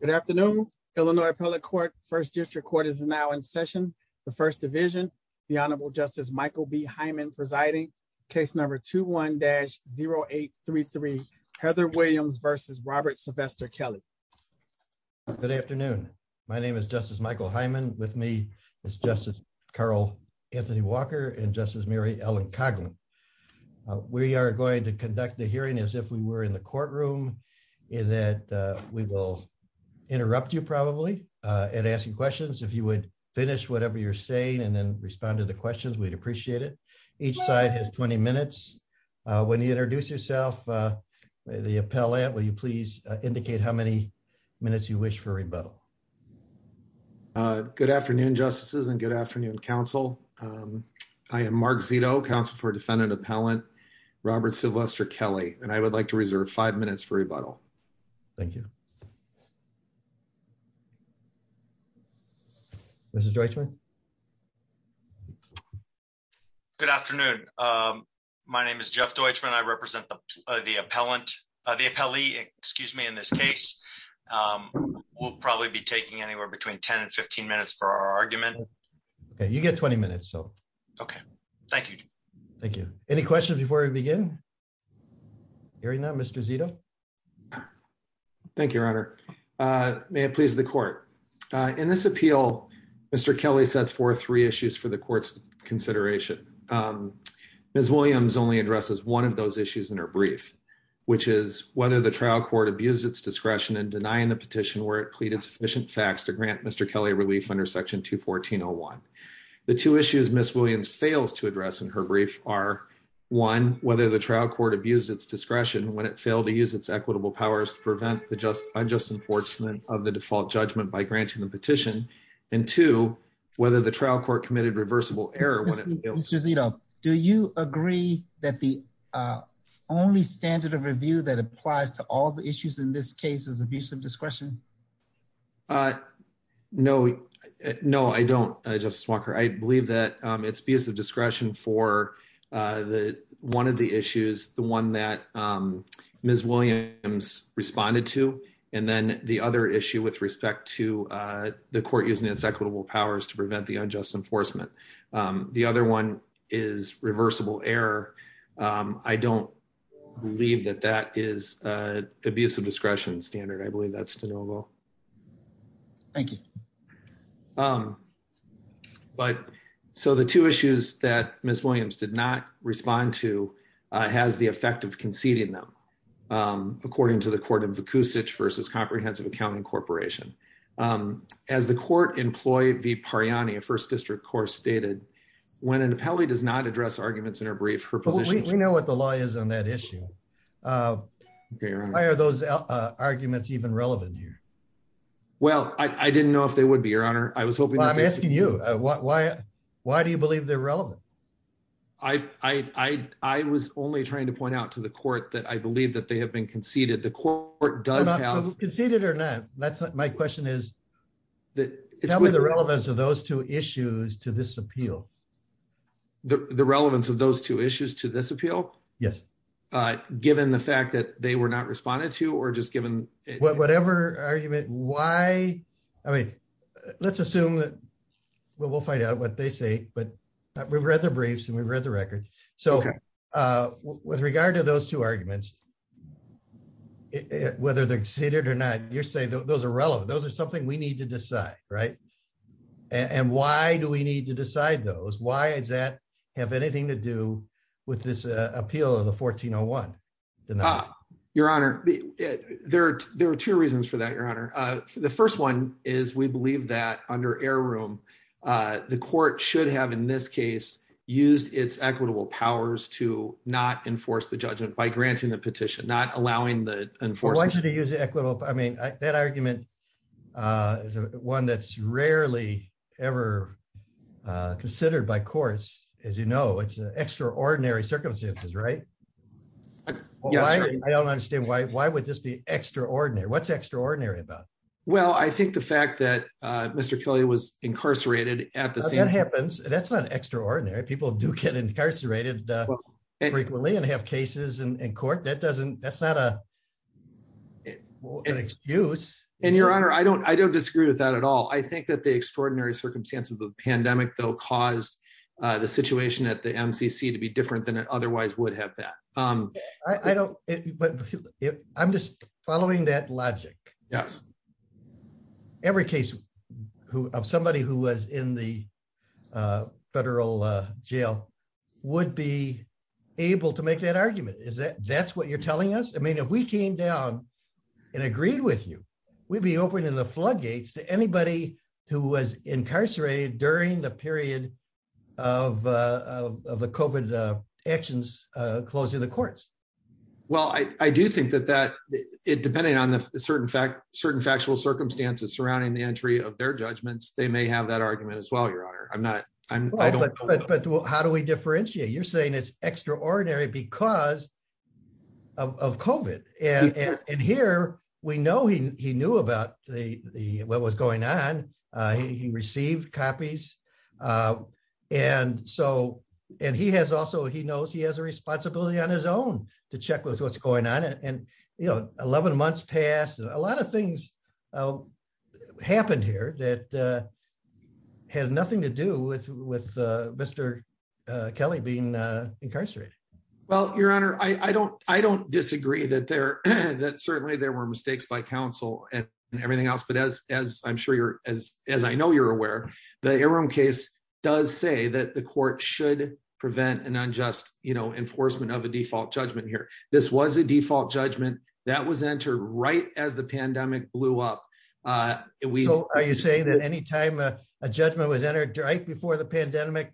Good afternoon. Illinois Appellate Court, First District Court is now in session. The First Division, the Honorable Justice Michael B. Hyman presiding, case number 21-0833, Heather Williams v. Robert Sylvester Kelly. Good afternoon. My name is Justice Michael Hyman. With me is Justice Carol Anthony Walker and Justice Mary Ellen Coghlan. We are going to conduct the rebuttal. I will interrupt you probably in asking questions. If you would finish whatever you're saying and then respond to the questions, we'd appreciate it. Each side has 20 minutes. When you introduce yourself, the appellant, will you please indicate how many minutes you wish for rebuttal? Good afternoon, Justices, and good afternoon, Counsel. I am Mark Zito, Counsel for Defendant Appellant Robert Sylvester Kelly, and I would like to introduce myself. Mr. Deutschman? Good afternoon. My name is Jeff Deutschman. I represent the appellee in this case. We'll probably be taking anywhere between 10 and 15 minutes for our argument. You get 20 minutes. Thank you. Any questions before we begin? Hearing none, Mr. Zito? Thank you, Your Honor. May it please the Court? In this appeal, Mr. Kelly sets forth three issues for the Court's consideration. Ms. Williams only addresses one of those issues in her brief, which is whether the trial court abused its discretion in denying the petition where it pleaded sufficient facts to grant Mr. Kelly relief under Section 214.01. The two issues Ms. Williams fails to address in her brief are, one, whether the trial court abused its discretion when it failed to use its equitable powers to prevent unjust enforcement of the default judgment by granting the petition, and two, whether the trial court committed reversible error when it failed to. Mr. Zito, do you agree that the only standard of review that applies to all the issues in this case is abusive discretion? No, I don't, Justice Walker. I believe that it's abusive discretion for one of the issues, the one that Ms. Williams responded to, and then the other issue with respect to the court using its equitable powers to prevent the unjust enforcement. The other one is reversible error. I don't believe that that is abusive discretion standard. I believe that's de novo. Thank you. So the two issues that Ms. Williams did not respond to has the effect of conceding them, according to the court in Vukucic versus Comprehensive Accounting Corporation. As the court employee V. Pariani of First District Court stated, when an appellee does not address arguments in her brief, her position... We know what the law is on that issue. Why are those arguments even relevant here? Well, I didn't know if they would be, Your Honor. I was hoping... Well, I'm asking you. Why do you believe they're relevant? I was only trying to point out to the court that I believe that they have been conceded. The court does have... Conceded or not, my question is, tell me the relevance of those two issues to this appeal. The relevance of those two issues to this appeal? Yes. Given the fact that they were not responded to or just given... Whatever argument, why... I mean, let's assume that we'll find out what they say, but we've read the briefs and we've read the record. So with regard to those two arguments, whether they're conceded or not, you're saying those are relevant. Those are something we need to decide, right? And why do we need to decide those? Why does that have anything to do with this appeal of the 1401 denial? Your Honor, there are two reasons for that, Your Honor. The first one is we believe that under heirloom, the court should have, in this case, used its equitable powers to not enforce the judgment by granting the petition, not allowing the enforcement. Why should it use the equitable... I mean, that argument is one that's rarely ever considered by courts. As you know, it's extraordinary circumstances, right? I don't understand. Why would this be extraordinary? What's extraordinary about it? Well, I think the fact that Mr. Kelly was incarcerated at the scene... That happens. That's not extraordinary. People do get incarcerated frequently and have cases in court. That's not an excuse. And Your Honor, I don't disagree with that at all. I think that the extraordinary circumstances of the pandemic, though, caused the situation at the MCC to be different than it I don't... I'm just following that logic. Every case of somebody who was in the federal jail would be able to make that argument. That's what you're telling us? I mean, if we came down and agreed with you, we'd be opening the floodgates to anybody who was incarcerated during the period of the COVID actions closing the courts. Well, I do think that that, depending on the certain factual circumstances surrounding the entry of their judgments, they may have that argument as well, Your Honor. But how do we differentiate? You're saying it's extraordinary because of COVID. And here, we know he knew about what was going on. He received copies. And he has also, he knows he has a responsibility on his own to check with what's going on. And, you know, 11 months passed. A lot of things happened here that had nothing to do with Mr. Kelly being incarcerated. Well, Your Honor, I don't disagree that certainly there were mistakes by counsel and everything else. But as I'm sure you're, as I know you're aware, the Air Room case does say that the court should prevent an unjust, you know, enforcement of a default judgment here. This was a default judgment that was entered right as the pandemic blew up. So are you saying that any time a judgment was entered right before the pandemic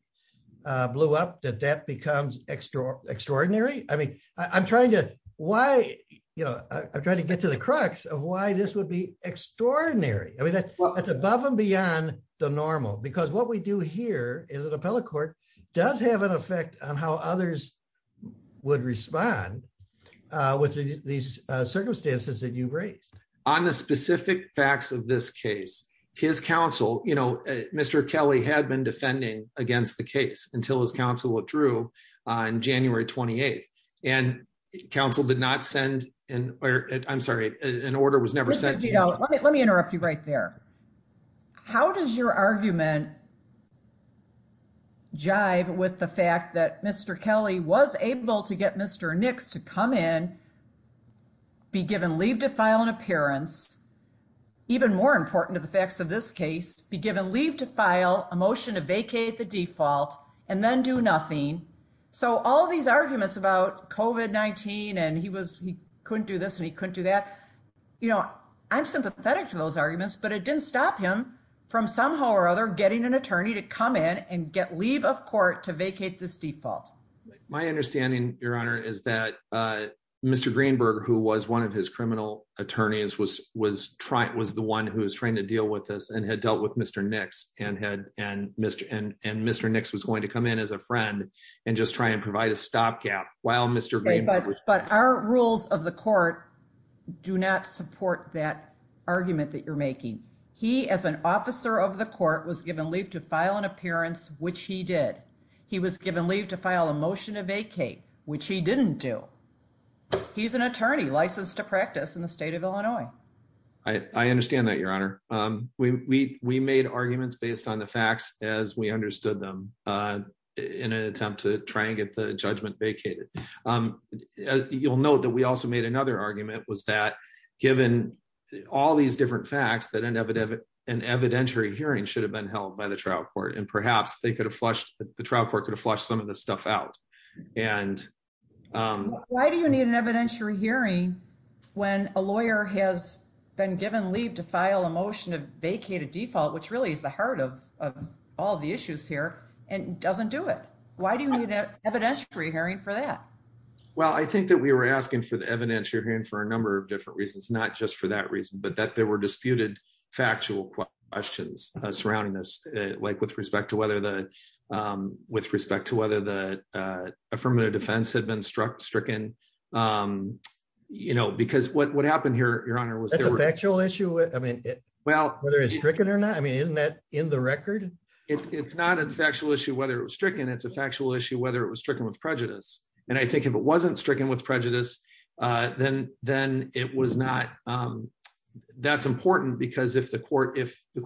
blew up, that that becomes extraordinary? I mean, I'm trying to, why, you know, I'm trying to get to the crux of why this would be extraordinary. I mean, that's above and beyond the normal. Because what we do here is an appellate court does have an effect on how others would respond with these circumstances that you've raised. On the specific facts of this case, his counsel, you know, Mr. Kelly had been defending against the case until his counsel withdrew on January 28th. And counsel did not send, I'm sorry, an order was never sent. Let me interrupt you right there. How does your argument jive with the fact that Mr. Kelly was able to get Mr. Nix to come in, be given leave to file an appearance, even more important to the facts of this case, be given leave to file a motion to vacate the default and then do nothing. So all these arguments about COVID-19 and he was, he couldn't do this and he couldn't do that. You know, I'm sympathetic to those arguments, but it didn't stop him from somehow or other getting an attorney to come in and get leave of court to vacate this default. My understanding, Your Honor, is that Mr. Greenberg, who was one of his criminal attorneys, was the one who was trying to deal with this and had dealt with Mr. Nix and Mr. Nix was going to come in as a friend and just try and provide a stopgap. But our rules of the court do not support that argument that you're making. He, as an officer of the court, was given leave to file an appearance, which he did. He was given leave to file a motion to vacate, which he didn't do. He's an attorney licensed to practice in the state of Illinois. I understand that, Your Honor. We made arguments based on the facts as we understood them in an attempt to try and get the judgment vacated. You'll note that we also made another argument was that given all these different facts, that an evidentiary hearing should have been held by the trial court. And perhaps the trial court could have flushed some of this stuff out. Why do you need an evidentiary hearing when a lawyer has been given leave to file a motion to vacate a default, which really is the heart of all the issues here, and doesn't do it? Why do you need an evidentiary hearing for that? Well, I think that we were asking for the evidentiary hearing for a number of different reasons, not just for that reason, but that there were disputed factual questions surrounding this, like with respect to whether the affirmative defense had been stricken. Because what happened here, Your Honor, was there... That's a factual issue? I mean, whether it's stricken or not? I mean, isn't that in the record? It's not a factual issue whether it was stricken. It's a factual issue whether it was stricken with prejudice. And I think if it wasn't stricken with prejudice, then it was not... That's important because if the court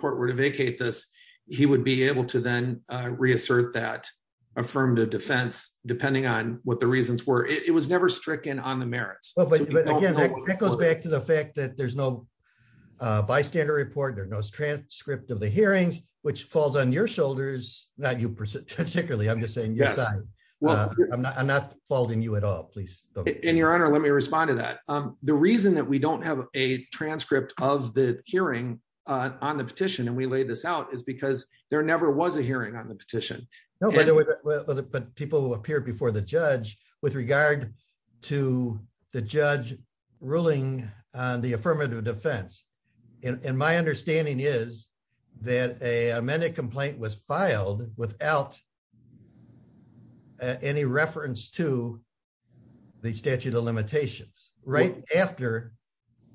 were to vacate this, he would be able to then reassert that affirmative defense, depending on what the reasons were. It was never stricken on the merits. But again, that goes back to the fact that there's no bystander report, there's no transcript of the hearings, which falls on your shoulders, not you particularly, I'm just saying your side. I'm not faulting you at all, please. And Your Honor, let me respond to that. The reason that we don't have a transcript of the hearing on the petition, and we laid this out, is because there never was a hearing on the petition. No, but people will appear before the judge with regard to the judge ruling on the affirmative defense. And my understanding is that an amended complaint was filed without any reference to the statute of limitations, right after,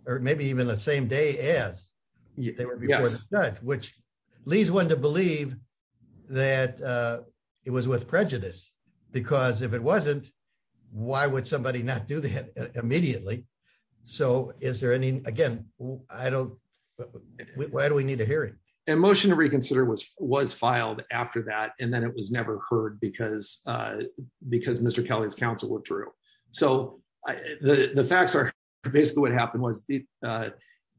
or maybe even the same day as they were before the judge, which leads one to believe that it was with prejudice. Because if it wasn't, why would somebody not do that immediately? So is there any... Again, I don't... Why do we need a hearing? A motion to reconsider was filed after that, and then it was never heard because Mr. Kelly's counsel withdrew. So the facts are, basically what happened was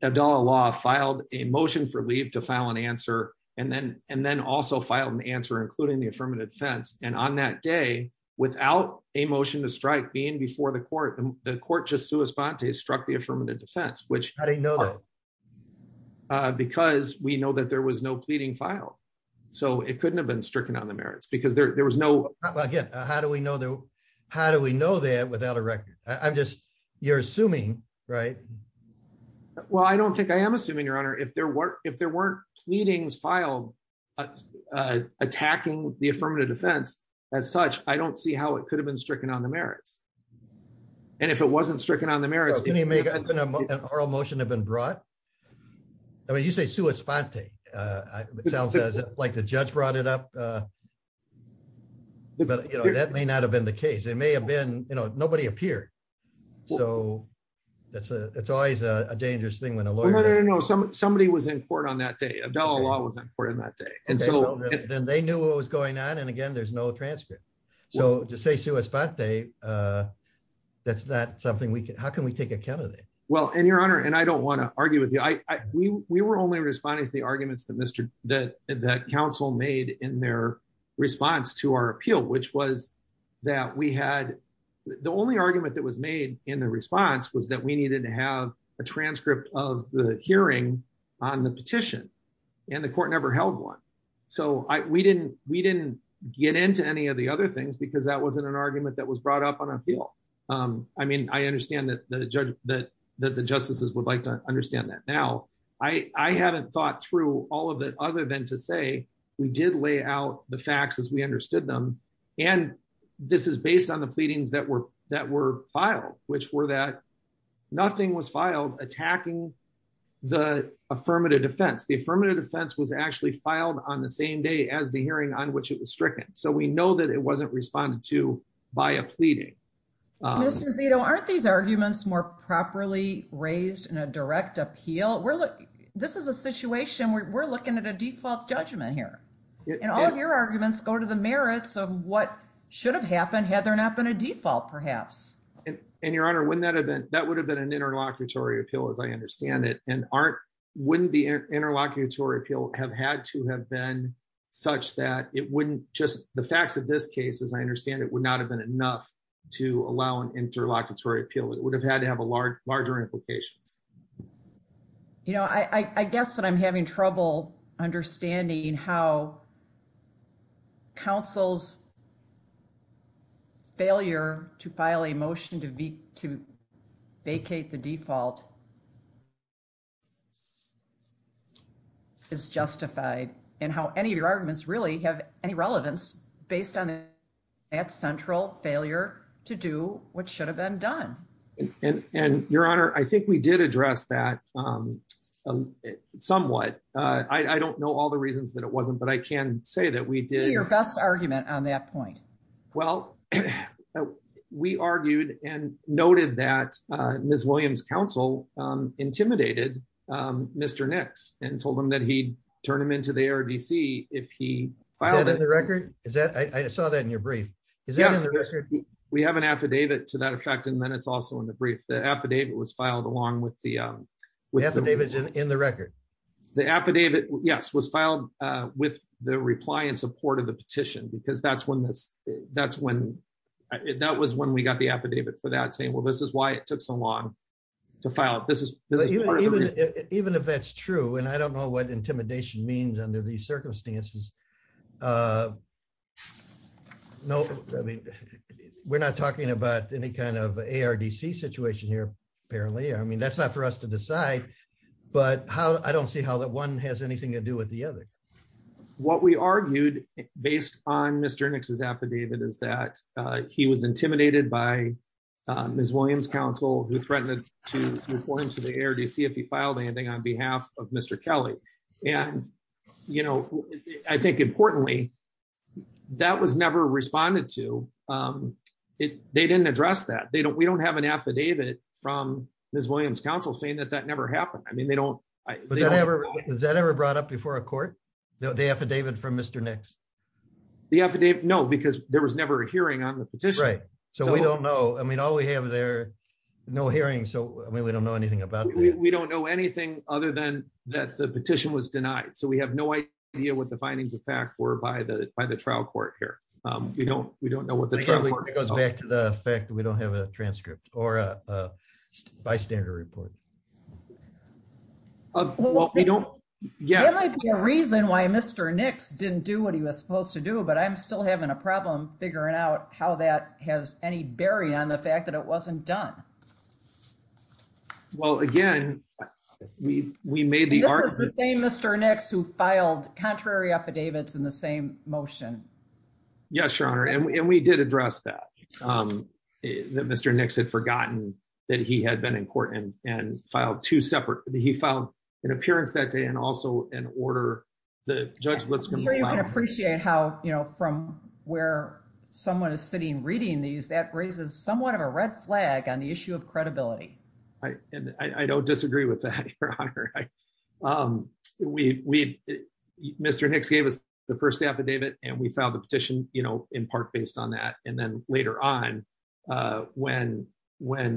Abdallah Law filed a motion for leave to file an answer, and then also filed an answer, including the affirmative defense. And on that day, without a motion to strike being before the court, the court just sua sponte struck the affirmative defense, which... How do you know that? Because we know that there was no pleading filed. So it couldn't have been stricken on the merits, because there was no... Again, how do we know that without a record? I'm just... You're assuming, right? Well, I don't think I am assuming, Your Honor. If there weren't pleadings filed attacking the affirmative defense as such, I don't see how it could have been stricken on the merits. And if it wasn't stricken on the merits... Can you make an oral motion have been brought? I mean, you say sua sponte. It sounds like the judge brought it up. But, you know, that may not have been the case. It may have been, you know, nobody appeared. So it's always a dangerous thing when a lawyer... No, no, no. Somebody was in court on that day. Abdallah Law was in court on that day. Then they knew what was going on. And again, there's no transcript. So to say sua sponte, that's not something we can... How can we take account of that? Well, and Your Honor, and I don't want to argue with you. We were only responding to the arguments that counsel made in their response to our appeal, which was that we had... The only argument that was made in the response was that we needed to have a transcript of the hearing on the petition. And the court never held one. So we didn't get into any of the other things because that wasn't an argument that was brought up on appeal. I mean, I understand that the justices would like to understand that now. I haven't thought through all of it other than to say we did lay out the facts as we understood them. And this is based on the pleadings that were filed, which were that nothing was filed attacking the affirmative defense. The affirmative defense was actually filed on the same day as the hearing on which it was stricken. So we know that it wasn't responded to by a pleading. Mr. Zito, aren't these arguments more properly raised in a direct appeal? This is a situation where we're looking at a default judgment here. And all of your arguments go to the merits of what should have happened had there not been a default, perhaps. And Your Honor, wouldn't that have been... That would have been an interlocutory appeal, as I understand it. And wouldn't the interlocutory appeal have had to have been such that it wouldn't just... The facts of this case, as I understand it, would not have been enough to allow an interlocutory appeal. It would have had to have larger implications. You know, I guess that I'm having trouble understanding how counsel's failure to file a motion to vacate the default is justified and how any of your arguments really have any relevance based on that central failure to do what should have been done. And Your Honor, I think we did address that somewhat. I don't know all the reasons that it wasn't, but I can say that we did... What was your best argument on that point? Well, we argued and noted that Ms. Williams' counsel intimidated Mr. Nix and told him that he'd turn him into the ARDC if he filed it. Is that in the record? I saw that in your brief. We have an affidavit to that effect, and then it's also in the brief. The affidavit was filed along with the... The affidavit's in the record. The affidavit, yes, was filed with the reply in support of the petition because that was when we got the affidavit for that saying, well, this is why it took so long to file. Even if that's true, and I don't know what intimidation means under these circumstances. We're not talking about any kind of ARDC situation here, apparently. That's not for us to decide, but I don't see how that one has anything to do with the other. What we argued based on Mr. Nix's affidavit is that he was intimidated by Ms. Williams' counsel who threatened to report him to the ARDC if he filed anything on behalf of Mr. Kelly. I think, importantly, that was never responded to. They didn't address that. We don't have an affidavit from Ms. Williams' counsel saying that that never happened. Has that ever brought up before a court, the affidavit from Mr. Nix? No, because there was never a hearing on the petition. Right, so we don't know. All we have there, no hearing, so we don't know anything about it. We don't know anything other than that the petition was denied, so we have no idea what the findings of fact were by the trial court here. We don't know what the trial court thought. That goes back to the fact that we don't have a transcript or a bystander report. There might be a reason why Mr. Nix didn't do what he was supposed to do, but I'm still having a problem figuring out how that has any bearing on the fact that it wasn't done. Well, again, we made the argument... This is the same Mr. Nix who filed contrary affidavits in the same motion. Yes, Your Honor, and we did address that, that Mr. Nix had forgotten that he had been in court and filed two separate... He filed an appearance that day and also an order... I'm sure you can appreciate how, you know, from where someone is sitting reading these, that raises somewhat of a red flag on the issue of credibility. I don't disagree with that, Your Honor. Mr. Nix gave us the first affidavit and we filed the petition, you know, in part based on that. And then later on, when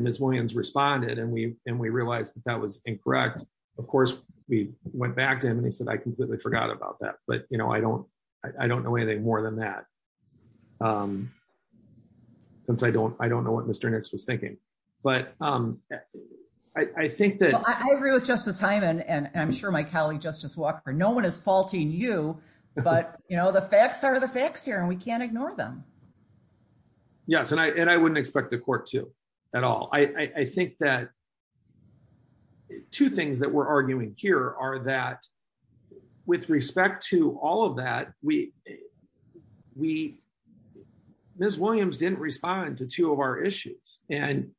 Ms. Williams responded and we realized that that was incorrect, of course, we went back to him and he said, I completely forgot about that. But, you know, I don't know anything more than that. Since I don't know what Mr. Nix was thinking. But I think that... Well, I agree with Justice Hyman and I'm sure my colleague Justice Walker. No one is faulting you, but, you know, the facts are the facts here and we can't ignore them. Yes, and I wouldn't expect the court to at all. I think that two things that we're arguing here are that with respect to all of that, Ms. Williams didn't respond to two of our issues and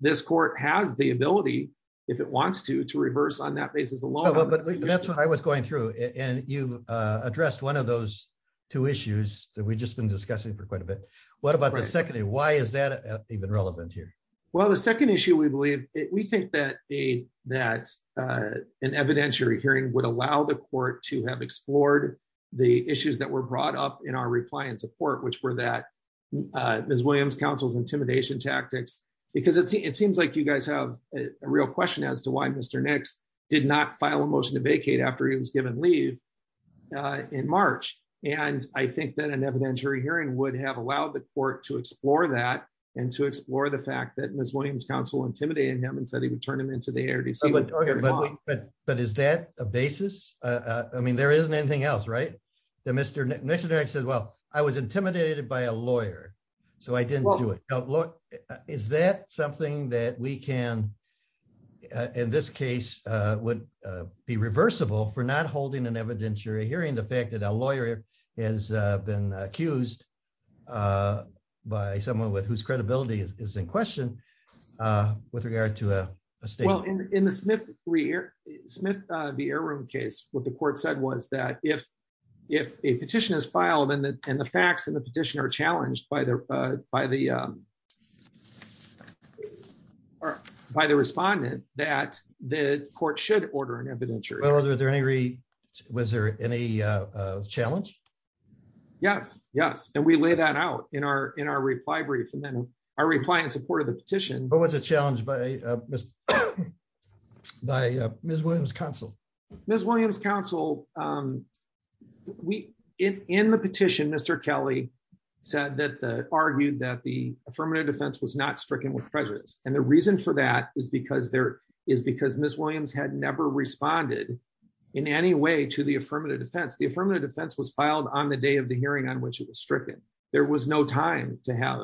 this court has the ability, if it wants to, to reverse on that basis alone. But that's what I was going through. And you addressed one of those two issues that we've just been discussing for quite a bit. What about the second? Why is that even relevant here? Well, the second issue, we believe, we think that an evidentiary hearing would allow the court to have explored the issues that were brought up in our reply and support, which were that Ms. Williams' counsel's intimidation tactics. Because it seems like you guys have a real question as to why Mr. Nix did not file a motion to vacate after he was given leave in March. And I think that an evidentiary hearing would have allowed the court to explore that and to explore the fact that Ms. Williams' counsel intimidated him and said he would turn him into the ARDC. But is that a basis? I mean, there isn't anything else, right? Mr. Nix says, well, I was intimidated by a lawyer, so I didn't do it. Is that something that we can, in this case, would be reversible for not holding an evidentiary hearing, the fact that a lawyer has been accused by someone whose credibility is in question with regard to a statement? Well, in the Smith v. Airroom case, what the court said was that if a petition is filed and the facts in the petition are challenged by the respondent, that the court should order an evidentiary. Was there any challenge? Yes, yes. And we lay that out in our reply brief. And then our reply in support of the petition... What was the challenge by Ms. Williams' counsel? Ms. Williams' counsel, in the petition, Mr. Kelly argued that the affirmative defense was not stricken with prejudice. And the reason for that is because Ms. Williams had never responded in any way to the affirmative defense. The affirmative defense was filed on the day of the hearing on which it was stricken. There was no time to have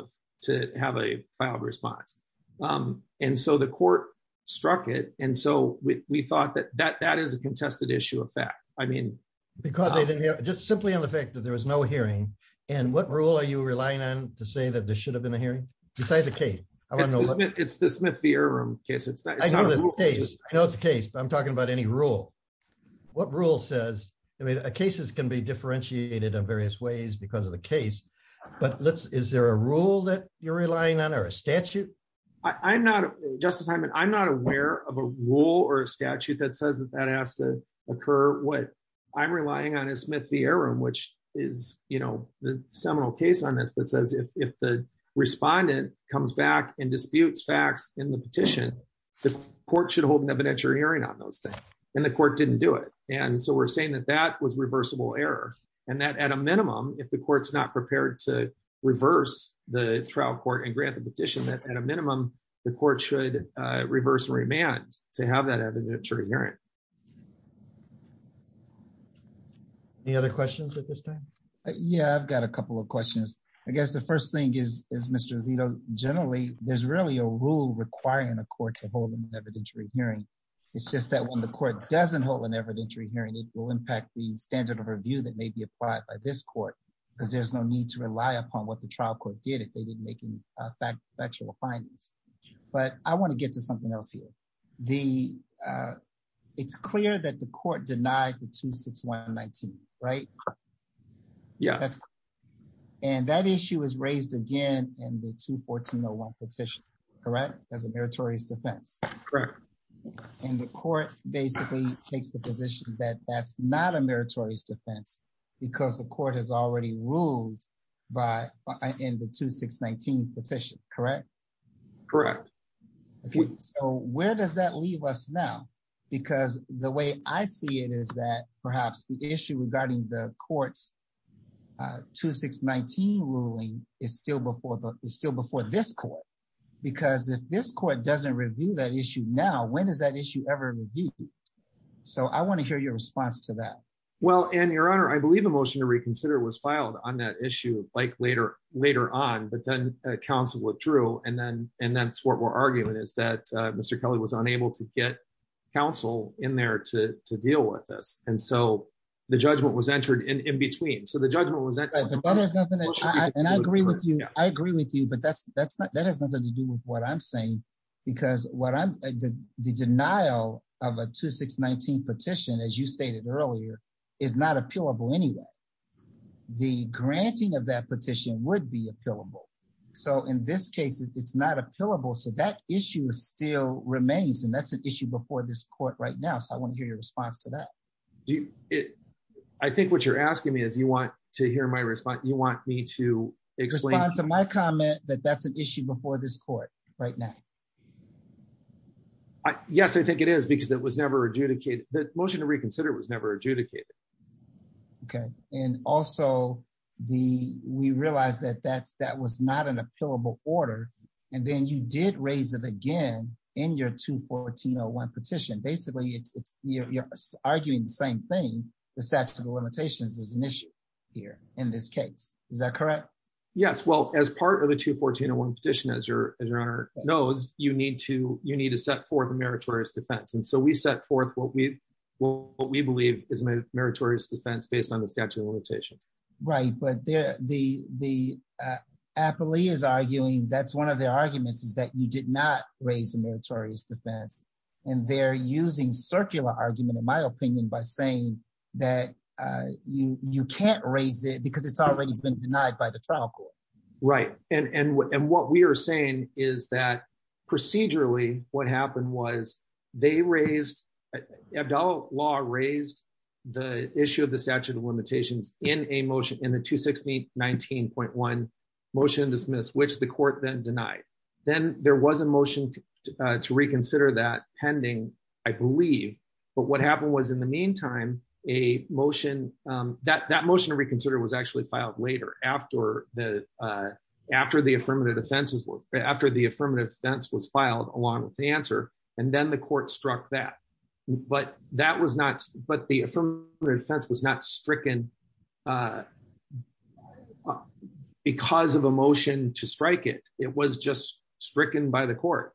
a filed response. And so the court struck it. And so we thought that that is a contested issue of fact. Simply on the fact that there was no hearing, and what rule are you relying on to say that there should have been a hearing? It's the Smith v. Airroom case. I know it's a case, but I'm talking about any rule. What rule says... Cases can be differentiated in various ways because of the case. But is there a rule that you're relying on or a statute? Justice Hyman, I'm not aware of a rule or a statute that says that that has to occur. What I'm relying on is Smith v. Airroom, which is the seminal case on this that says if the respondent comes back and disputes facts in the petition, the court should hold an evidentiary hearing on those things. And the court didn't do it. And so we're saying that that was reversible error. And that at a minimum, if the court's not prepared to reverse the trial court and grant the petition, that at a minimum, the court should reverse remand to have that evidentiary hearing. Any other questions at this time? Yeah, I've got a couple of questions. I guess the first thing is, Mr. Zito, generally, there's really a rule requiring a court to hold an evidentiary hearing. It's just that when the court doesn't hold an evidentiary hearing, it will impact the standard of review that may be applied by this court, because there's no need to rely upon what the trial court did if they didn't make any factual findings. But I want to get to something else here. It's clear that the court denied the 26119, right? Yes. And that issue is raised again in the 21401 petition, correct? As a meritorious defense. Correct. And the court basically takes the position that that's not a meritorious defense, because the court has already ruled in the 2619 petition, correct? Correct. So where does that leave us now? Because the way I see it is that perhaps the issue regarding the court's 2619 ruling is still before this court, because if this court doesn't review that issue now, when is that issue ever reviewed? So I want to hear your response to that. Well, and Your Honor, I believe a motion to reconsider was filed on that issue like later on, but then counsel withdrew, and that's what we're arguing is that Mr. Kelly was unable to get counsel in there to deal with this. And so the judgment was entered in between. So the judgment was... And I agree with you, but that has nothing to do with what I'm saying, because the denial of a 2619 petition, as you stated earlier, is not appealable anyway. The granting of that petition would be appealable. So in this case, it's not appealable. So that issue still remains, and that's an issue before this court right now. So I want to hear your response to that. I think what you're asking me is you want to hear my response. You want me to explain... Respond to my comment that that's an issue before this court right now. Yes, I think it is, because it was never adjudicated. The motion to reconsider was never adjudicated. Okay. And also, we realized that that was not an appealable order, and then you did raise it again in your 214-01 petition. Basically, you're arguing the same thing. The statute of limitations is an issue here in this case. Is that correct? Yes. Well, as part of the 214-01 petition, as Your Honor knows, you need to set forth a meritorious defense. And so we set forth what we believe is a meritorious defense based on the statute of limitations. Right, but the... Appley is arguing that's one of their arguments, is that you did not raise a meritorious defense. And they're using circular argument, in my opinion, by saying that you can't raise it, because it's already been denied by the trial court. Right. And what we are saying is that procedurally, what happened was they raised... Abdallah Law raised the issue of the statute of limitations in a motion, in the 216-19.1 motion to dismiss, which the court then denied. Then there was a motion to reconsider that pending, I believe. But what happened was, in the meantime, a motion... That motion to reconsider was actually filed later, after the affirmative defense was filed along with the answer. And then the court struck that. But that was not... But the affirmative defense was not stricken... because of a motion to strike it. It was just stricken by the court.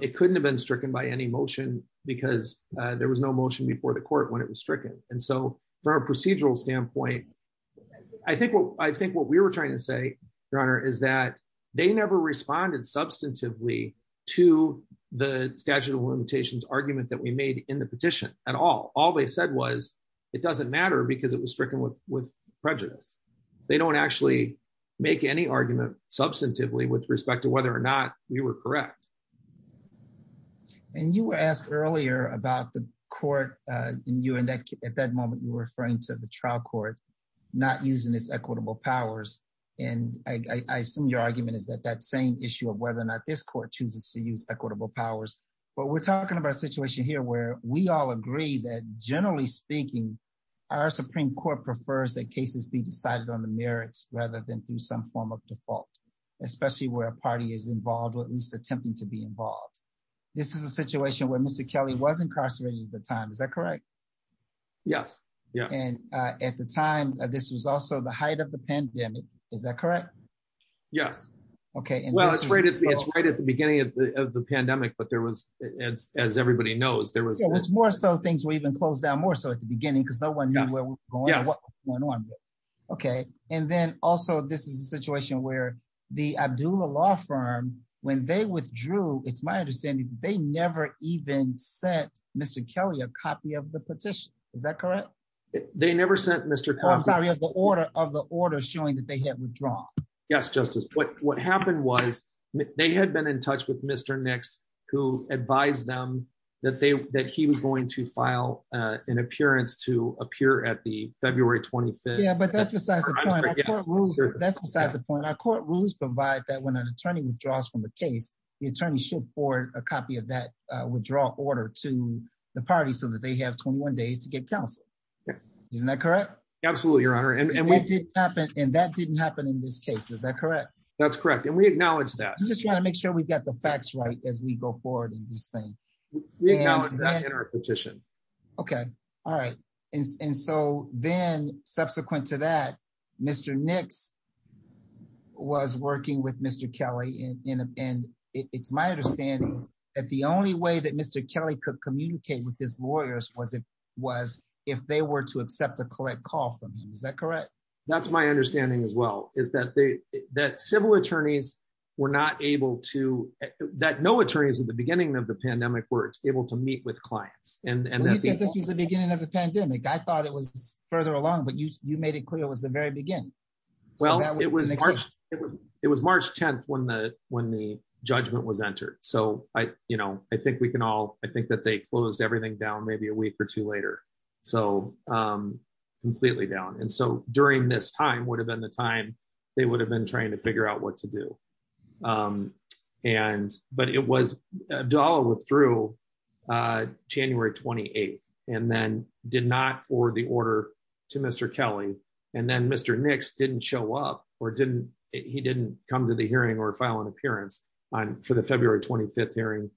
It couldn't have been stricken by any motion, because there was no motion before the court when it was stricken. And so, from a procedural standpoint, I think what we were trying to say, Your Honor, is that they never responded substantively to the statute of limitations argument that we made in the petition at all. All they said was, it doesn't matter, because it was stricken with prejudice. They don't actually make any argument substantively with respect to whether or not we were correct. And you were asked earlier about the court... At that moment, you were referring to the trial court, not using its equitable powers. And I assume your argument is that that same issue of whether or not this court chooses to use equitable powers. But we're talking about a situation here where we all agree that, generally speaking, our Supreme Court prefers that cases be decided on the merits, rather than through some form of default, especially where a party is involved or at least attempting to be involved. This is a situation where Mr. Kelly was incarcerated at the time. Is that correct? Yes. And at the time, this was also the height of the pandemic. Is that correct? Yes. Well, it's right at the beginning of the pandemic, but there was, as everybody knows, there was... It's more so things were even closed down more so at the beginning, because no one knew where we were going or what was going on. And then, also, this is a situation where the Abdullah Law Firm, when they withdrew, it's my understanding, they never even sent Mr. Kelly a copy of the petition. Is that correct? They never sent Mr. Kelly... Oh, I'm sorry, of the order showing that they had withdrawn. Yes, Justice. What happened was they had been in touch with Mr. Nix, who advised them that he was going to file an appearance to appear at the February 25th... Yeah, but that's besides the point. That's besides the point. Our court rules provide that when an attorney withdraws from a case, the attorney should forward a copy of that withdrawal order to the party so that they have 21 days to get counsel. Isn't that correct? Absolutely, Your Honor. And that didn't happen in this case, is that correct? That's correct, and we acknowledge that. I'm just trying to make sure we've got the facts right as we go forward in this thing. We acknowledge that in our petition. Okay, all right. And so then, subsequent to that, Mr. Nix was working with Mr. Kelly, and it's my understanding that the only way that Mr. Kelly could communicate with his lawyers was if they were to accept a correct call from him. Is that correct? That's my understanding as well, is that civil attorneys were not able to... That no attorneys at the beginning of the pandemic were able to meet with clients. You said this was the beginning of the pandemic. I thought it was further along, but you made it clear it was the very beginning. Well, it was March 10th when the judgment was entered. So I think that they closed everything down maybe a week or two later, so completely down. And so during this time would have been the time they would have been trying to figure out what to do. But it was... Abdullah withdrew January 28th and then did not forward the order to Mr. Kelly. And then Mr. Nix didn't show up or didn't... He didn't come to the hearing or file an appearance for the February 25th hearing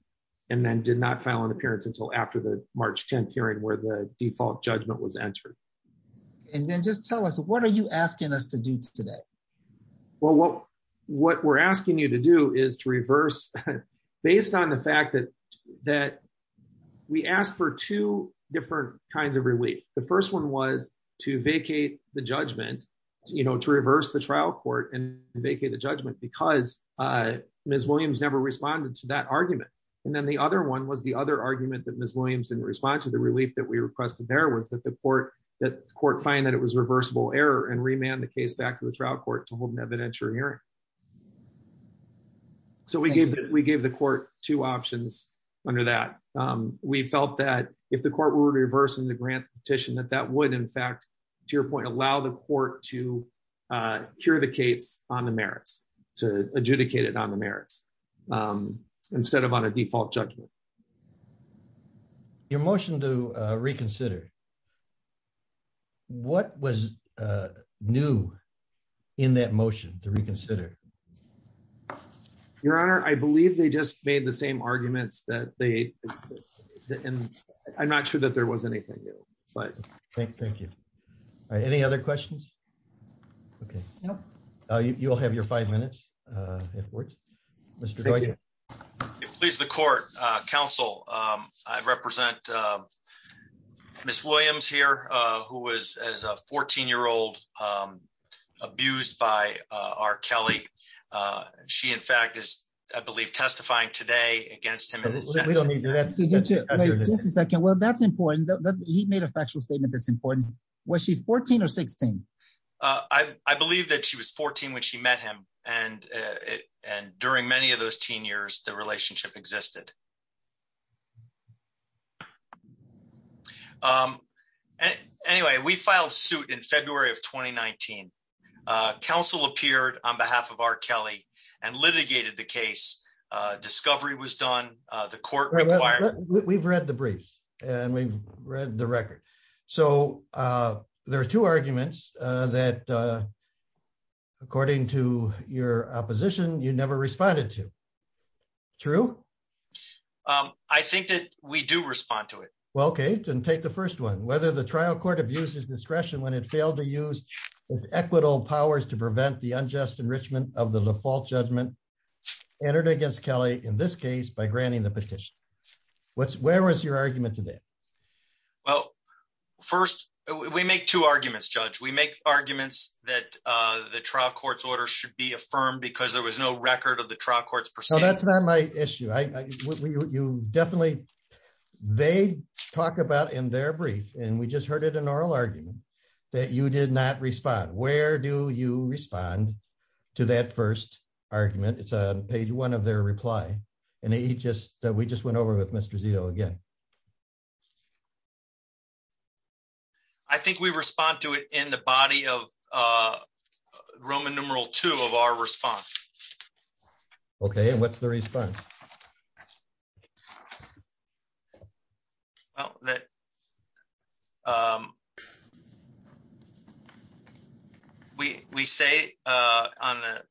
and then did not file an appearance until after the March 10th hearing where the default judgment was entered. And then just tell us, what are you asking us to do today? Well, what we're asking you to do is to reverse... Based on the fact that we asked for two different kinds of relief. The first one was to vacate the judgment, to reverse the trial court and vacate the judgment because Ms. Williams never responded to that argument. And then the other one was the other argument that Ms. Williams didn't respond to. The relief that we requested there was that the court find that it was reversible error and remand the case back to the trial court to hold an evidentiary hearing. So we gave the court two options under that. We felt that if the court were reversing the grant petition, that that would, in fact, to your point, allow the court to hear the case on the merits, to adjudicate it on the merits instead of on a default judgment. Your motion to reconsider. What was new in that motion to reconsider? Your Honor, I believe they just made the same arguments that they... I'm not sure that there was anything new, but... Thank you. Any other questions? Okay. You'll have your five minutes, if it works. Mr. Dwight. If it pleases the court, counsel, I represent Ms. Williams here, who was a 14-year-old abused by R. Kelly. She, in fact, is, I believe, testifying today against him. Just a second. Well, that's important. He made a factual statement that's important. Was she 14 or 16? I believe that she was 14 when she met him. And during many of those teen years, the relationship existed. Okay. Anyway, we filed suit in February of 2019. Counsel appeared on behalf of R. Kelly and litigated the case. Discovery was done. The court required... We've read the briefs and we've read the record. So, there are two arguments that, according to your opposition, you never responded to. True? I think that we do respond to it. Well, okay, then take the first one. Whether the trial court abuses discretion when it failed to use its equitable powers to prevent the unjust enrichment of the default judgment entered against Kelly, in this case, by granting the petition. Where was your argument to that? Well, first, we make two arguments, Judge. We make arguments that the trial court's order should be affirmed because there was no record of the trial court's proceedings. No, that's not my issue. You definitely... They talk about in their brief, and we just heard it in oral argument, that you did not respond. Where do you respond to that first argument? It's on page one of their reply. And we just went over with Mr. Zito again. I think we respond to it in the body of Roman numeral two of our response. Okay, and what's the response? Well, we say that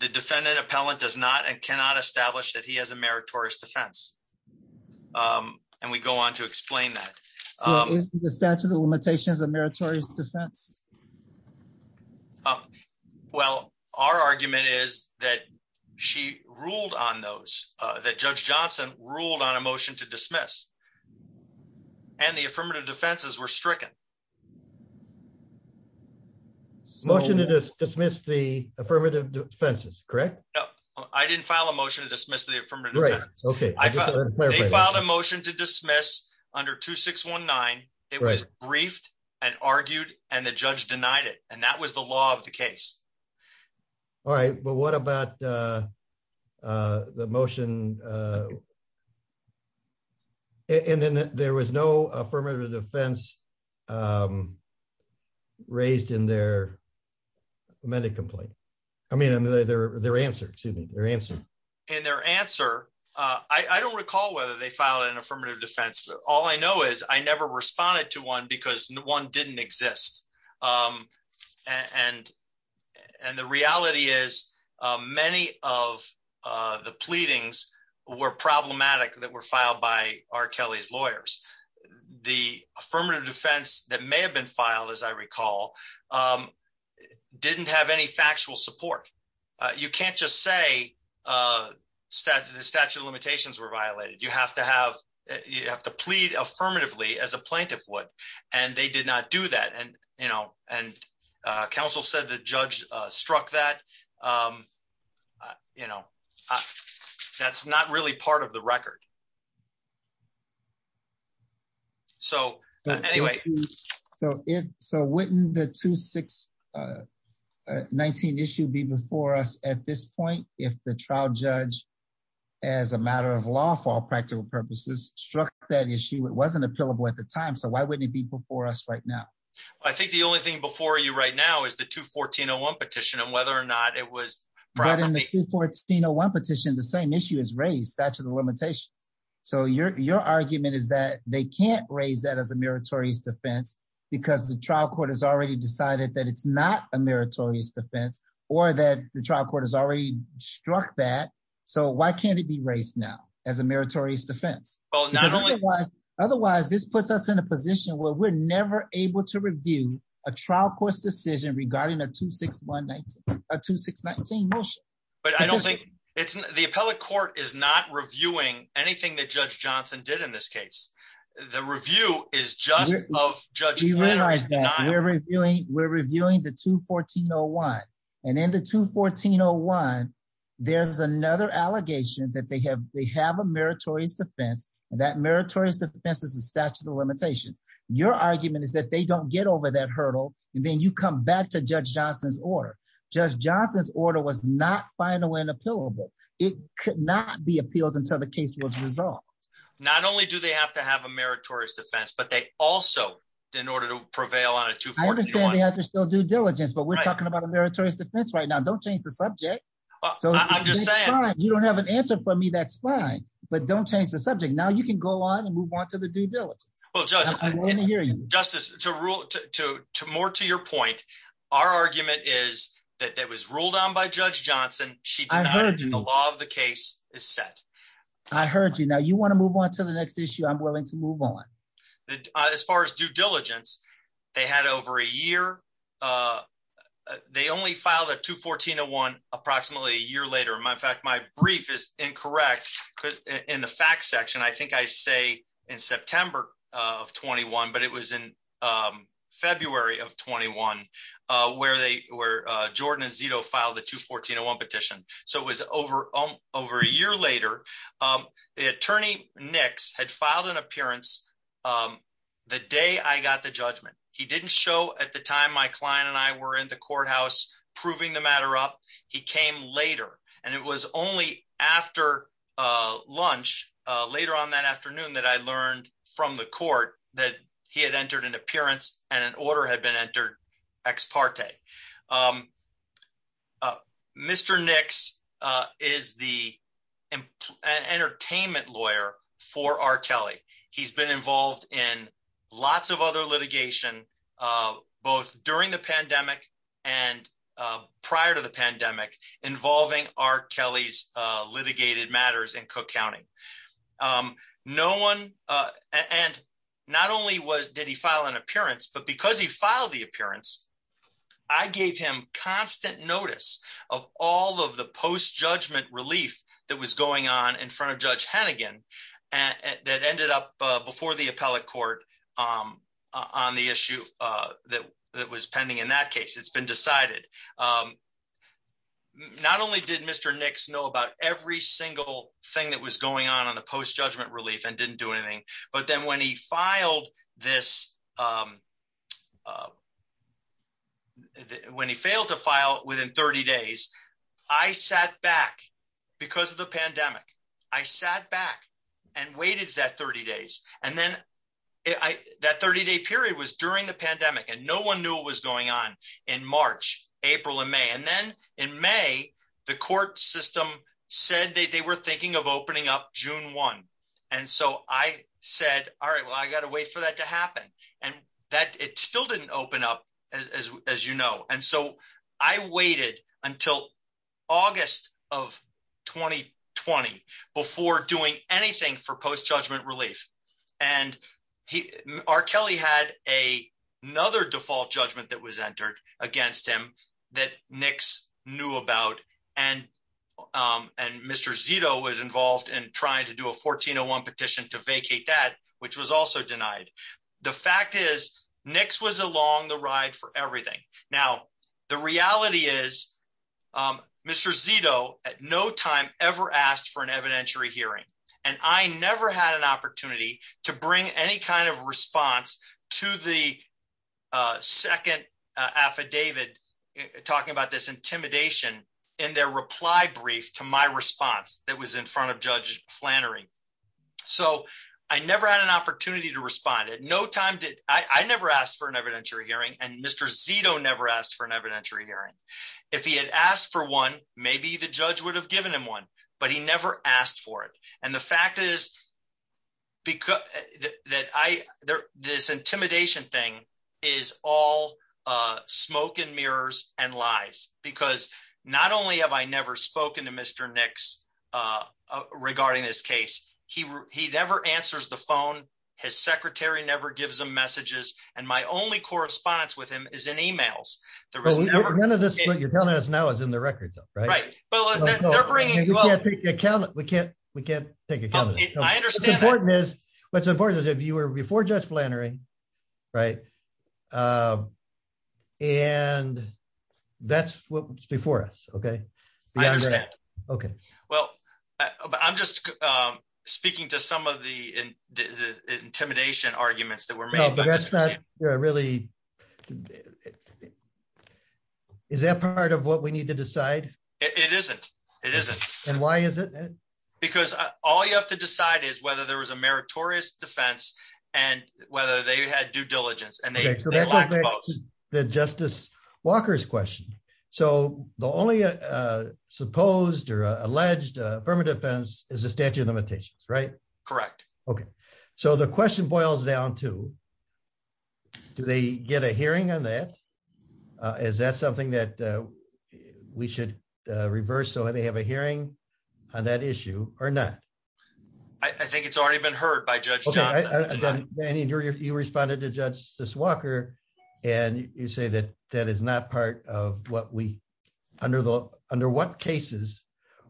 the defendant appellant does not and cannot establish that he has a meritorious defense. And we go on to explain that. Is the statute of limitations a meritorious defense? Well, our argument is that she ruled on those that Judge Johnson ruled on a motion to dismiss. And the affirmative defenses were stricken. Motion to dismiss the affirmative defenses, correct? I didn't file a motion to dismiss the affirmative defense. They filed a motion to dismiss under 2619. It was briefed and argued and the judge denied it. And that was the law of the case. All right, but what about the motion to dismiss the affirmative defense? And then there was no affirmative defense raised in their medical complaint. I mean, their answer, excuse me, their answer. And their answer, I don't recall whether they filed an affirmative defense. All I know is I never responded to one because one didn't exist. And the reality is many of the pleadings were problematic that were filed by R. Kelly's lawyers. The affirmative defense that may have been filed, as I recall, didn't have any factual support. You can't just say the statute of limitations were violated. You have to plead affirmatively as a plaintiff would. And they did not do that. And counsel said the judge struck that. You know, that's not really part of the record. So anyway. So wouldn't the 2619 issue be before us at this point if the trial judge as a matter of law for all practical purposes struck that issue. It wasn't appealable at the time. So why wouldn't it be before us right now? I think the only thing before you right now is the 214-01 petition and whether or not it was properly. But in the 214-01 petition, the same issue is raised, statute of limitation. So your argument is that they can't raise that as a meritorious defense because the trial court has already decided that it's not a meritorious defense or that the trial court has already struck that. So why can't it be raised now as a meritorious defense? Because otherwise this puts us in a position where we're never able to review a trial court's decision regarding a 2619 motion. But I don't think it's the appellate court is not reviewing anything that judge Johnson did in this case. The review is just of judge. We realize that we're reviewing. We're reviewing the 214-01 and in the 214-01, there's another allegation that they have. They have a meritorious defense and that meritorious defense is a statute of limitations. Your argument is that they don't get over that hurdle. And then you come back to judge Johnson's order. Judge Johnson's order was not final and appealable. It could not be appealed until the case was resolved. Not only do they have to have a meritorious defense, but they also, in order to prevail on a 241. I understand they have to show due diligence, but we're talking about a meritorious defense right now. Don't change the subject. I'm just saying. You don't have an answer for me, that's fine, but don't change the subject. Now you can go on and move on to the due diligence. Well, Judge. Justice, more to your point, our argument is that it was ruled on by Judge Johnson. She denied it and the law of the case is set. I heard you. Now you want to move on to the next issue, I'm willing to move on. As far as due diligence, they had over a year. They only filed a 214-01 approximately a year later. In fact, my brief is incorrect. In the fact section, I think I say in September, but it was in February of 21, where Jordan and Zito filed the 214-01 petition. It was over a year later. The attorney, Nix, had filed an appearance the day I got the judgment. He didn't show at the time my client and I were in the courthouse proving the matter up. He came later. It was only after lunch, later on that afternoon, that I learned from the court that he had entered an appearance and an order had been entered ex parte. Mr. Nix is the entertainment lawyer for R. Kelly. He's been involved in lots of other litigation, both during the pandemic and prior to the pandemic, involving R. Kelly's litigated matters in Cook County. Not only did he file an appearance, but because he filed the appearance, I gave him constant notice of all of the post-judgment relief that was going on in front of Judge Hennigan that ended up before the appellate court on the issue that was pending in that case. It's been decided. Not only did Mr. Nix know about every single thing that was going on on the post-judgment relief and didn't do anything, but then when he failed to file within 30 days, I sat back because of the pandemic. I sat back and waited that 30 days. That 30-day period was during the pandemic and no one knew what was going on in March, April, and May. Then in May, the court system said they were thinking of opening up June 1. I said, I got to wait for that to happen. It still didn't open up, as you know. I waited until August of 2020 before doing anything for post-judgment relief. R. Kelly had another default judgment that was entered against him that Nix knew about and Mr. Zito was involved in trying to do a 1401 petition to vacate that, which was also denied. The fact is, Nix was along the ride for everything. The reality is, Mr. Zito at no time ever asked for an evidentiary hearing. I never had an opportunity to bring any kind of response to the second affidavit talking about this intimidation in their reply brief to my response that was in front of Judge Flannery. I never had an opportunity to respond. I never asked for an evidentiary hearing and Mr. Zito never asked for an evidentiary hearing. If he had asked for one, maybe the judge would have given him one, but he never asked for it. The fact is, this intimidation thing is all smoke and mirrors and lies because not only have I never spoken to Mr. Nix regarding this case, he never answers the phone, his secretary never gives him messages, and my only correspondence with him is in emails. None of this that you're telling us now is in the records, right? Right. We can't take account of it. I understand that. What's important is that you were before Judge Flannery, right? And that's what was before us, okay? I understand. I'm just speaking to some of the intimidation arguments that were made. Is that part of what we need to decide? It isn't. And why is it? Because all you have to decide is whether there was a meritorious defense and whether they had due diligence in their lack of both. That's the Justice Walker's question. So the only supposed or alleged affirmative defense is the statute of limitations, right? Correct. Okay. So the question boils down to, do they get a hearing on that? Is that something that we should reverse so that they have a hearing on that issue or not? I think it's already been heard by Judge Johnson. Danny, you responded to Justice Walker, and you say that that is not part of what we, under what cases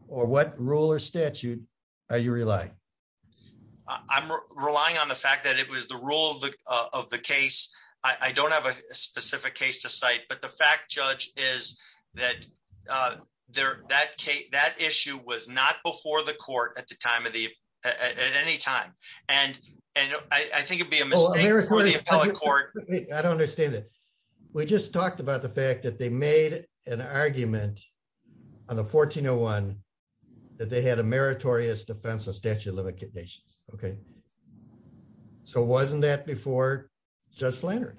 or what rule or statute are you relying? I'm relying on the fact that it was the rule of the case. I don't have a specific case to cite, but the fact, Judge, is that that issue was not before the court at any time. And I think it'd be a mistake for the appellate court. I don't understand that. We just talked about the fact that they made an argument on the 1401 that they had a meritorious defense of statute of limitations. Okay. So wasn't that before Judge Flannery?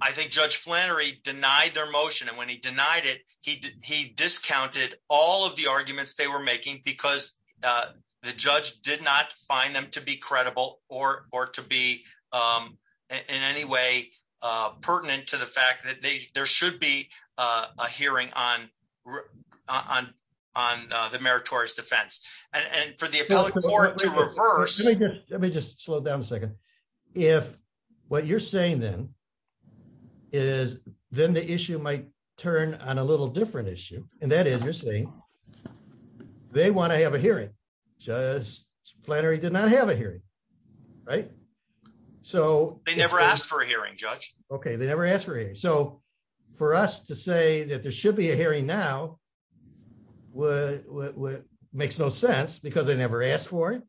I think Judge Flannery denied their motion, and when he denied it, he discounted all of the arguments they were making because the judge did not find them to be credible or to be in any way pertinent to the fact that there should be a hearing on the meritorious defense. And for the appellate court to reverse... Let me just slow down a second. If what you're saying then is then the issue might turn on a little different issue, and that is you're saying they want to have a hearing. Judge Flannery did not have a hearing, right? They never asked for a hearing, Judge. Okay, they never asked for a hearing. So for us to say that there should be a hearing now makes no sense because they never asked for it,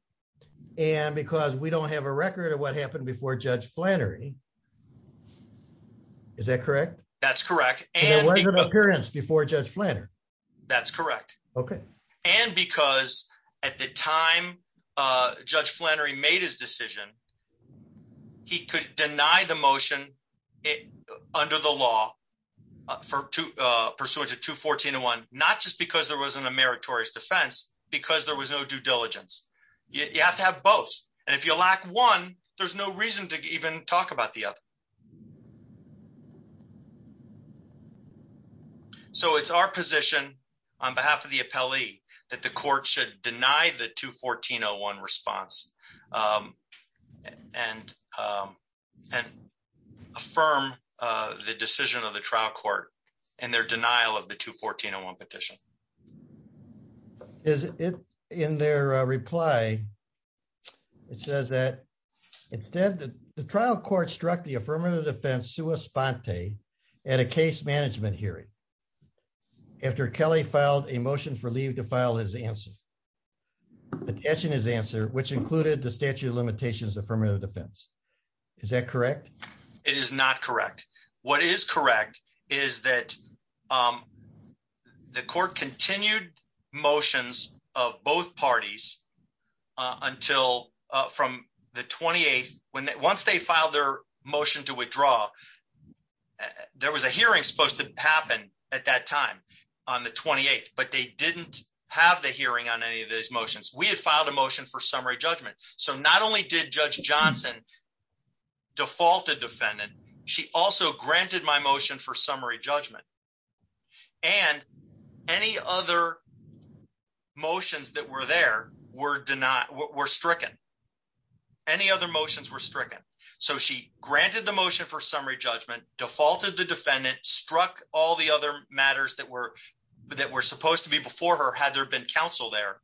and because we don't have a record of what happened before Judge Flannery. Is that correct? That's correct. There was an appearance before Judge Flannery. That's correct. And because at the time Judge Flannery made his decision, he could deny the motion under the law pursuant to 214.01, not just because there wasn't a meritorious defense, because there was no due diligence. You have to have both, and if you lack one, there's no reason to even talk about the other. Okay. So it's our position on behalf of the appellee that the court should deny the 214.01 response and affirm the decision of the trial court and their denial of the 214.01 petition. In their reply, it says that the trial court struck the affirmative defense sua sponte at a case management hearing after Kelly filed a motion for leave to file his answer, attaching his answer, which included the statute of limitations affirmative defense. Is that correct? It is not correct. What is correct is that the court continued motions of both parties until from the 28th. Once they filed their motion to withdraw, there was a hearing supposed to happen at that time on the 28th, but they didn't have the hearing on any of those motions. We had filed a motion for summary judgment. So not only did Judge Johnson default the defendant, she also granted my motion for summary judgment. And any other motions that were there were stricken. Any other motions were stricken. So she granted the motion for summary judgment, defaulted the defendant, struck all the other matters that were supposed to be before her had there been counsel there,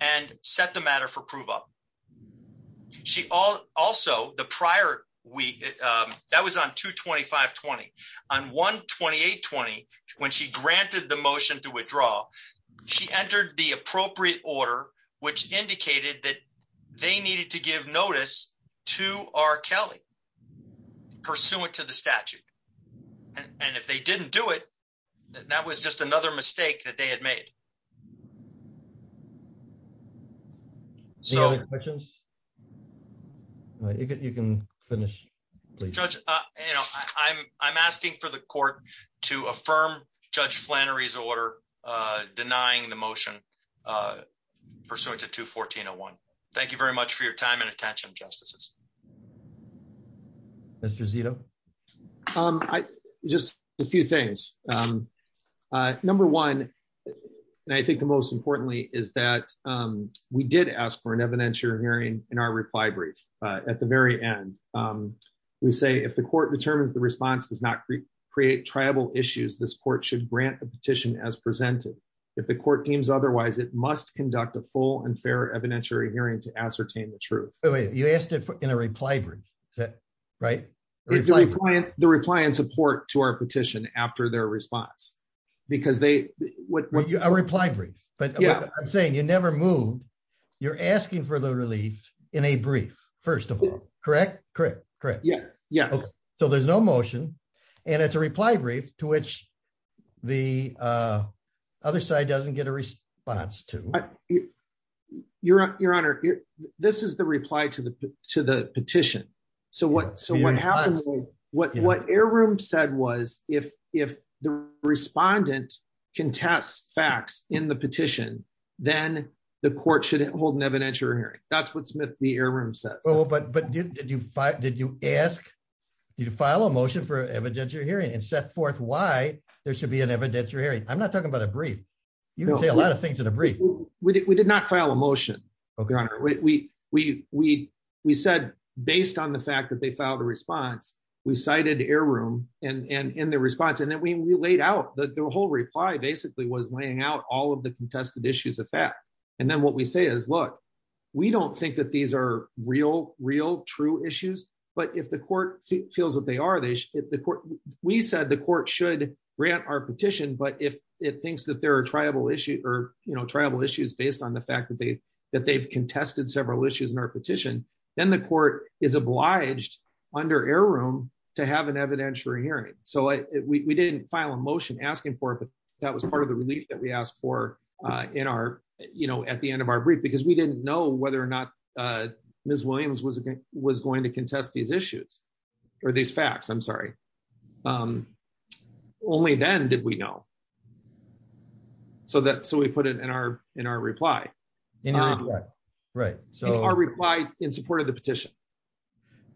and set the matter for prove up. She also, the prior week, that was on 22520. On 12820, when she granted the motion to withdraw, she entered the appropriate order, which indicated that they needed to give notice to R. Kelly pursuant to the statute. And if they didn't do it, that was just another mistake that they had made. So... Any other questions? You can finish. Judge, I'm asking for the court to affirm Judge Flannery's order denying the motion pursuant to 21401. Thank you very much for your time and attention, Justices. Mr. Zito? Just a few things. Number one, and I think the most importantly, is that we did ask for an evidentiary hearing in our reply brief. At the very end, we say if the court determines the response does not create tribal issues, this court should grant the petition as presented. If the court deems otherwise, it must conduct a full and fair evidentiary hearing to ascertain the truth. You asked it in a reply brief, right? The reply and support to our petition after their response. Because they... A reply brief. I'm saying you never moved. You're asking for the relief in a brief, first of all. Correct? Correct. Yes. So there's no motion, and it's a reply brief to which the other side doesn't get a response to. Your Honor, this is the reply to the petition. So what happened was, what Air Room said was, if the respondent contests facts in the petition, then the court should hold an evidentiary hearing. That's what Smith v. Air Room said. But did you ask, did you file a motion for evidentiary hearing and set forth why there should be an evidentiary hearing? I'm not talking about a brief. You can say a lot of things in a brief. We did not file a motion, Your Honor. We said, based on the fact that they filed a response, we cited Air Room in their response, and then we laid out, the whole reply basically was laying out all of the contested issues of fact. And then what we say is, look, we don't think that these are real, real, true issues, but if the court feels that they are, we said the court should grant our petition, but if it thinks that there are triable issues based on the fact that they've contested several issues in our petition, then the court is obliged under Air Room to have an evidentiary hearing. So we didn't file a motion asking for it, but that was part of the relief that we asked for at the end of our brief because we didn't know whether or not Ms. Williams was going to contest these issues or these facts. I'm sorry. Only then did we know. So we put it in our reply. In your reply. Right. In our reply in support of the petition.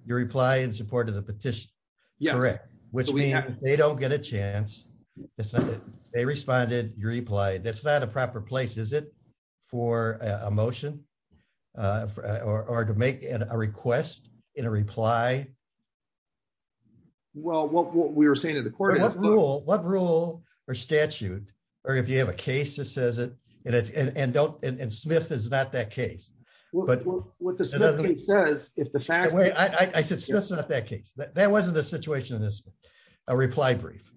Your reply in support of the petition. Correct. Which means they don't get a chance. They responded, you replied. That's not a proper place, is it, for a motion or to make a request in a reply? Well, what we were saying to the court is... What rule or statute or if you have a case that says it and Smith is not that case. What the Smith case says if the facts... I said Smith's not that case. That wasn't the situation in this reply brief.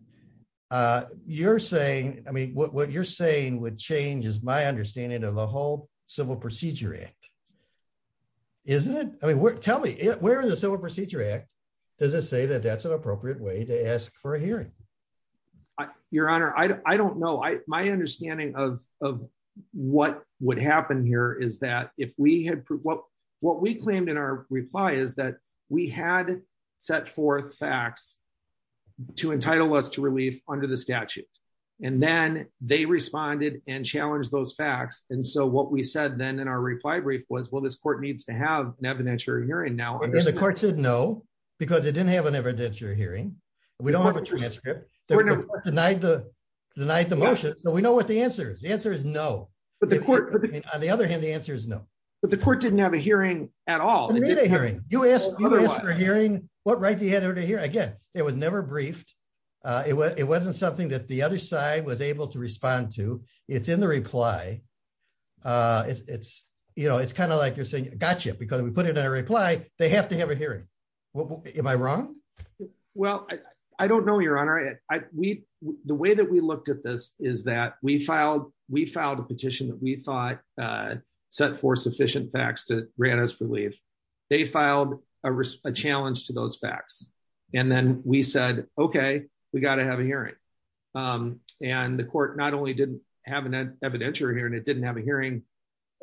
You're saying, I mean, what you're saying would change is my understanding of the whole Civil Procedure Act. Isn't it? I mean, tell me, where in the Civil Procedure Act does it say that that's an appropriate way to ask for a hearing? Your Honor, I don't know. My understanding of what would happen here is that if we had... What we claimed in our reply is that we had set forth facts to entitle us to relief under the statute. And then they responded and challenged those facts. And so what we said then in our reply brief was, well, this court needs to have an evidentiary hearing now. The court said no because it didn't have an evidentiary hearing. We don't have a transcript. The court denied the motion. So we know what the answer is. The answer is no. On the other hand, the answer is no. But the court didn't have a hearing at all. It didn't have a hearing. You asked for a hearing. What right do you have to have a hearing? Again, it was never briefed. It wasn't something that the other side was able to respond to. It's in the reply. It's, you know, it's kind of like you're saying, gotcha, because we put it in a reply. They have to have a hearing. Am I wrong? Well, I don't know, Your Honor. We, the way that we looked at this is that we filed, we filed a petition that we thought set forth sufficient facts to grant us relief. They filed a challenge to those facts. And then we said, okay, we got to have a hearing. And the court not only didn't have an evidentiary hearing, it didn't have a hearing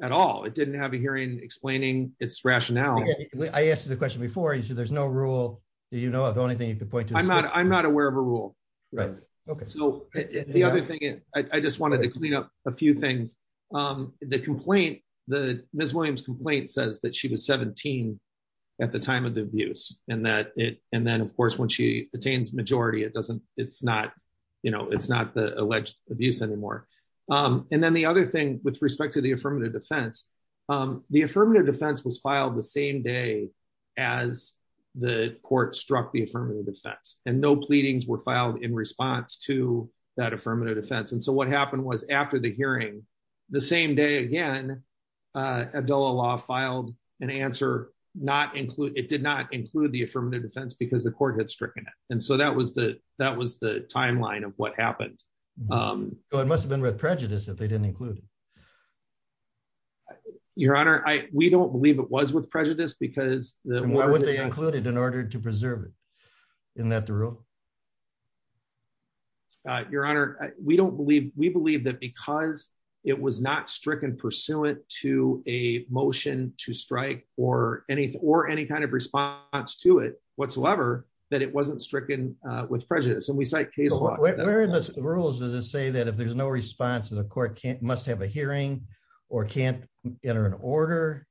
at all. It didn't have a hearing explaining its rationale. I asked you the question before. You said there's no rule. Do you know of anything you could point to? I'm not aware of a rule. Right. Okay. The other thing, I just wanted to clean up a few things. The complaint, the Ms. Williams complaint says that she was 17 at the time of the abuse and that it, and then of course, when she attains majority, it doesn't, it's not, you know, it's not the alleged abuse anymore. And then the other thing with respect to the affirmative defense, the affirmative defense was filed the same day as the court struck the affirmative defense and no pleadings were filed in response to that affirmative defense. And so what happened was after the hearing, the same day again, Abdullah Law filed an answer not include, it did not include the affirmative defense because the court had stricken it. And so that was the, that was the timeline of what happened. It must've been with prejudice if they didn't include it. Your honor, we don't believe it was with prejudice because... Why would they include it in order to preserve it? Isn't that the rule? Your honor, we don't believe, we believe that because it was not stricken pursuant to a motion to strike or any, or any kind of response to it whatsoever that it wasn't stricken with prejudice. And we cite case law... Where in the rules does it say that if there's no response to the court must have a hearing or can't enter an order?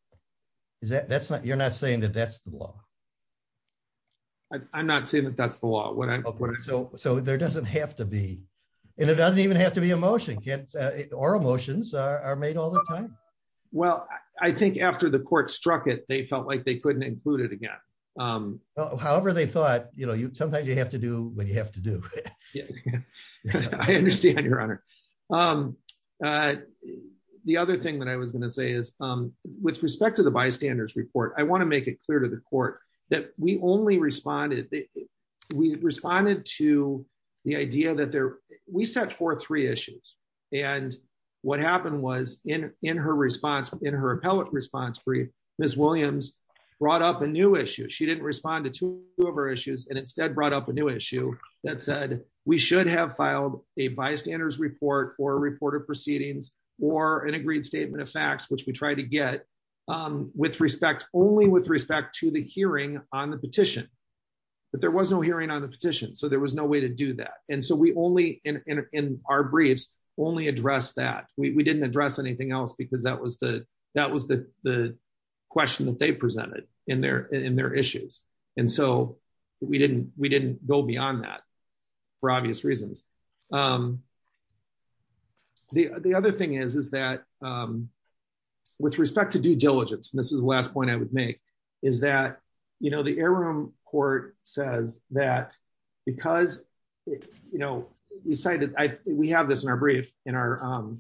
Is that, that's not, you're not saying that that's the law? I'm not saying that that's the law. So there doesn't have to be. And it doesn't even have to be a motion. Can't, oral motions are made all the time. Well, I think after the court struck it, they felt like they couldn't include it again. However they thought, you know, sometimes you have to do what you have to do. I understand, Your Honor. The other thing that I was going to say is with respect to the bystanders report, I want to make it clear to the court that we only responded, we responded to the idea that there, we set forth three issues and what happened was in, in her response, in her appellate response brief, Ms. Williams brought up a new issue. She didn't respond to two of our issues and instead brought up a new issue that said we should have filed a bystanders report or a report of proceedings or an agreed statement of facts, which we tried to get with respect, only with respect to the hearing on the petition. But there was no hearing on the petition. So there was no way to do that. And so we only in, in our briefs only address that we didn't address anything else because that was the, that was the, the question that they presented in their, in their issues. And so we didn't, we didn't go beyond that for obvious reasons. The other thing is, is that with respect to due diligence, and this is the last point I would make, is that, you know, the air room court says that because you know, we cited, we have this in our brief, in our,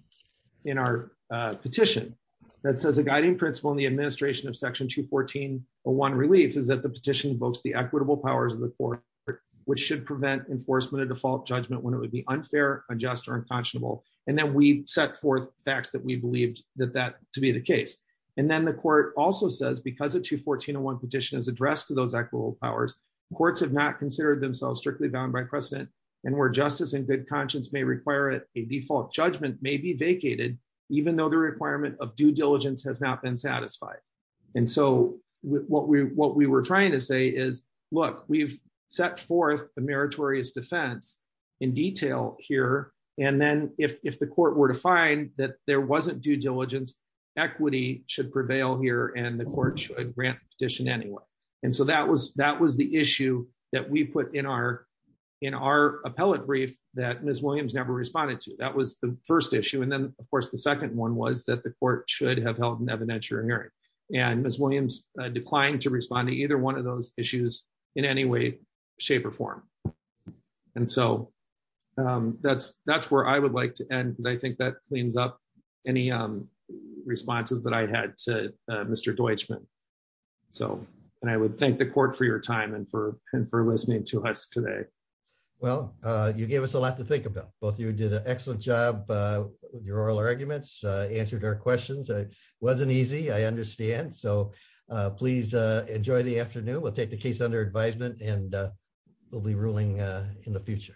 in our petition that says a guiding principle in the administration of section 214, a one relief is that the petition invokes the equitable powers of the court, which should prevent enforcement of default judgment when it would be unfair, unjust, or unconscionable. And then we set forth facts that we believed that that to be the case. And then the court also says because of 214.01 petition is addressed to those actual powers. Courts have not considered themselves strictly bound by precedent and where justice and good conscience may require it. A default judgment may be vacated even though the requirement of due diligence has not been satisfied. And so what we, what we were trying to say is, look, we've set forth the meritorious defense in detail here. And then if, if the court were to find that there wasn't due diligence, equity should prevail here and the court should grant petition anyway. And so that was, that was the issue that we put in our, in our appellate brief that Ms. Williams never responded to. That was the first issue. And then of course, the second one was that the court should have held an evidentiary hearing. And Ms. Williams declined to respond to either one of those issues in any way, shape or form. And so that's, that's where I would like to end because I think that cleans up any responses that I had to Mr. Deutschman. So, and I would thank the court for your time and for, and for listening to us today. Well, you gave us a lot to think about. Both of you did an excellent job. Your oral arguments answered our questions. It wasn't easy. I understand. So, please enjoy the afternoon. We'll take the case under advisement and we'll be ruling in the future.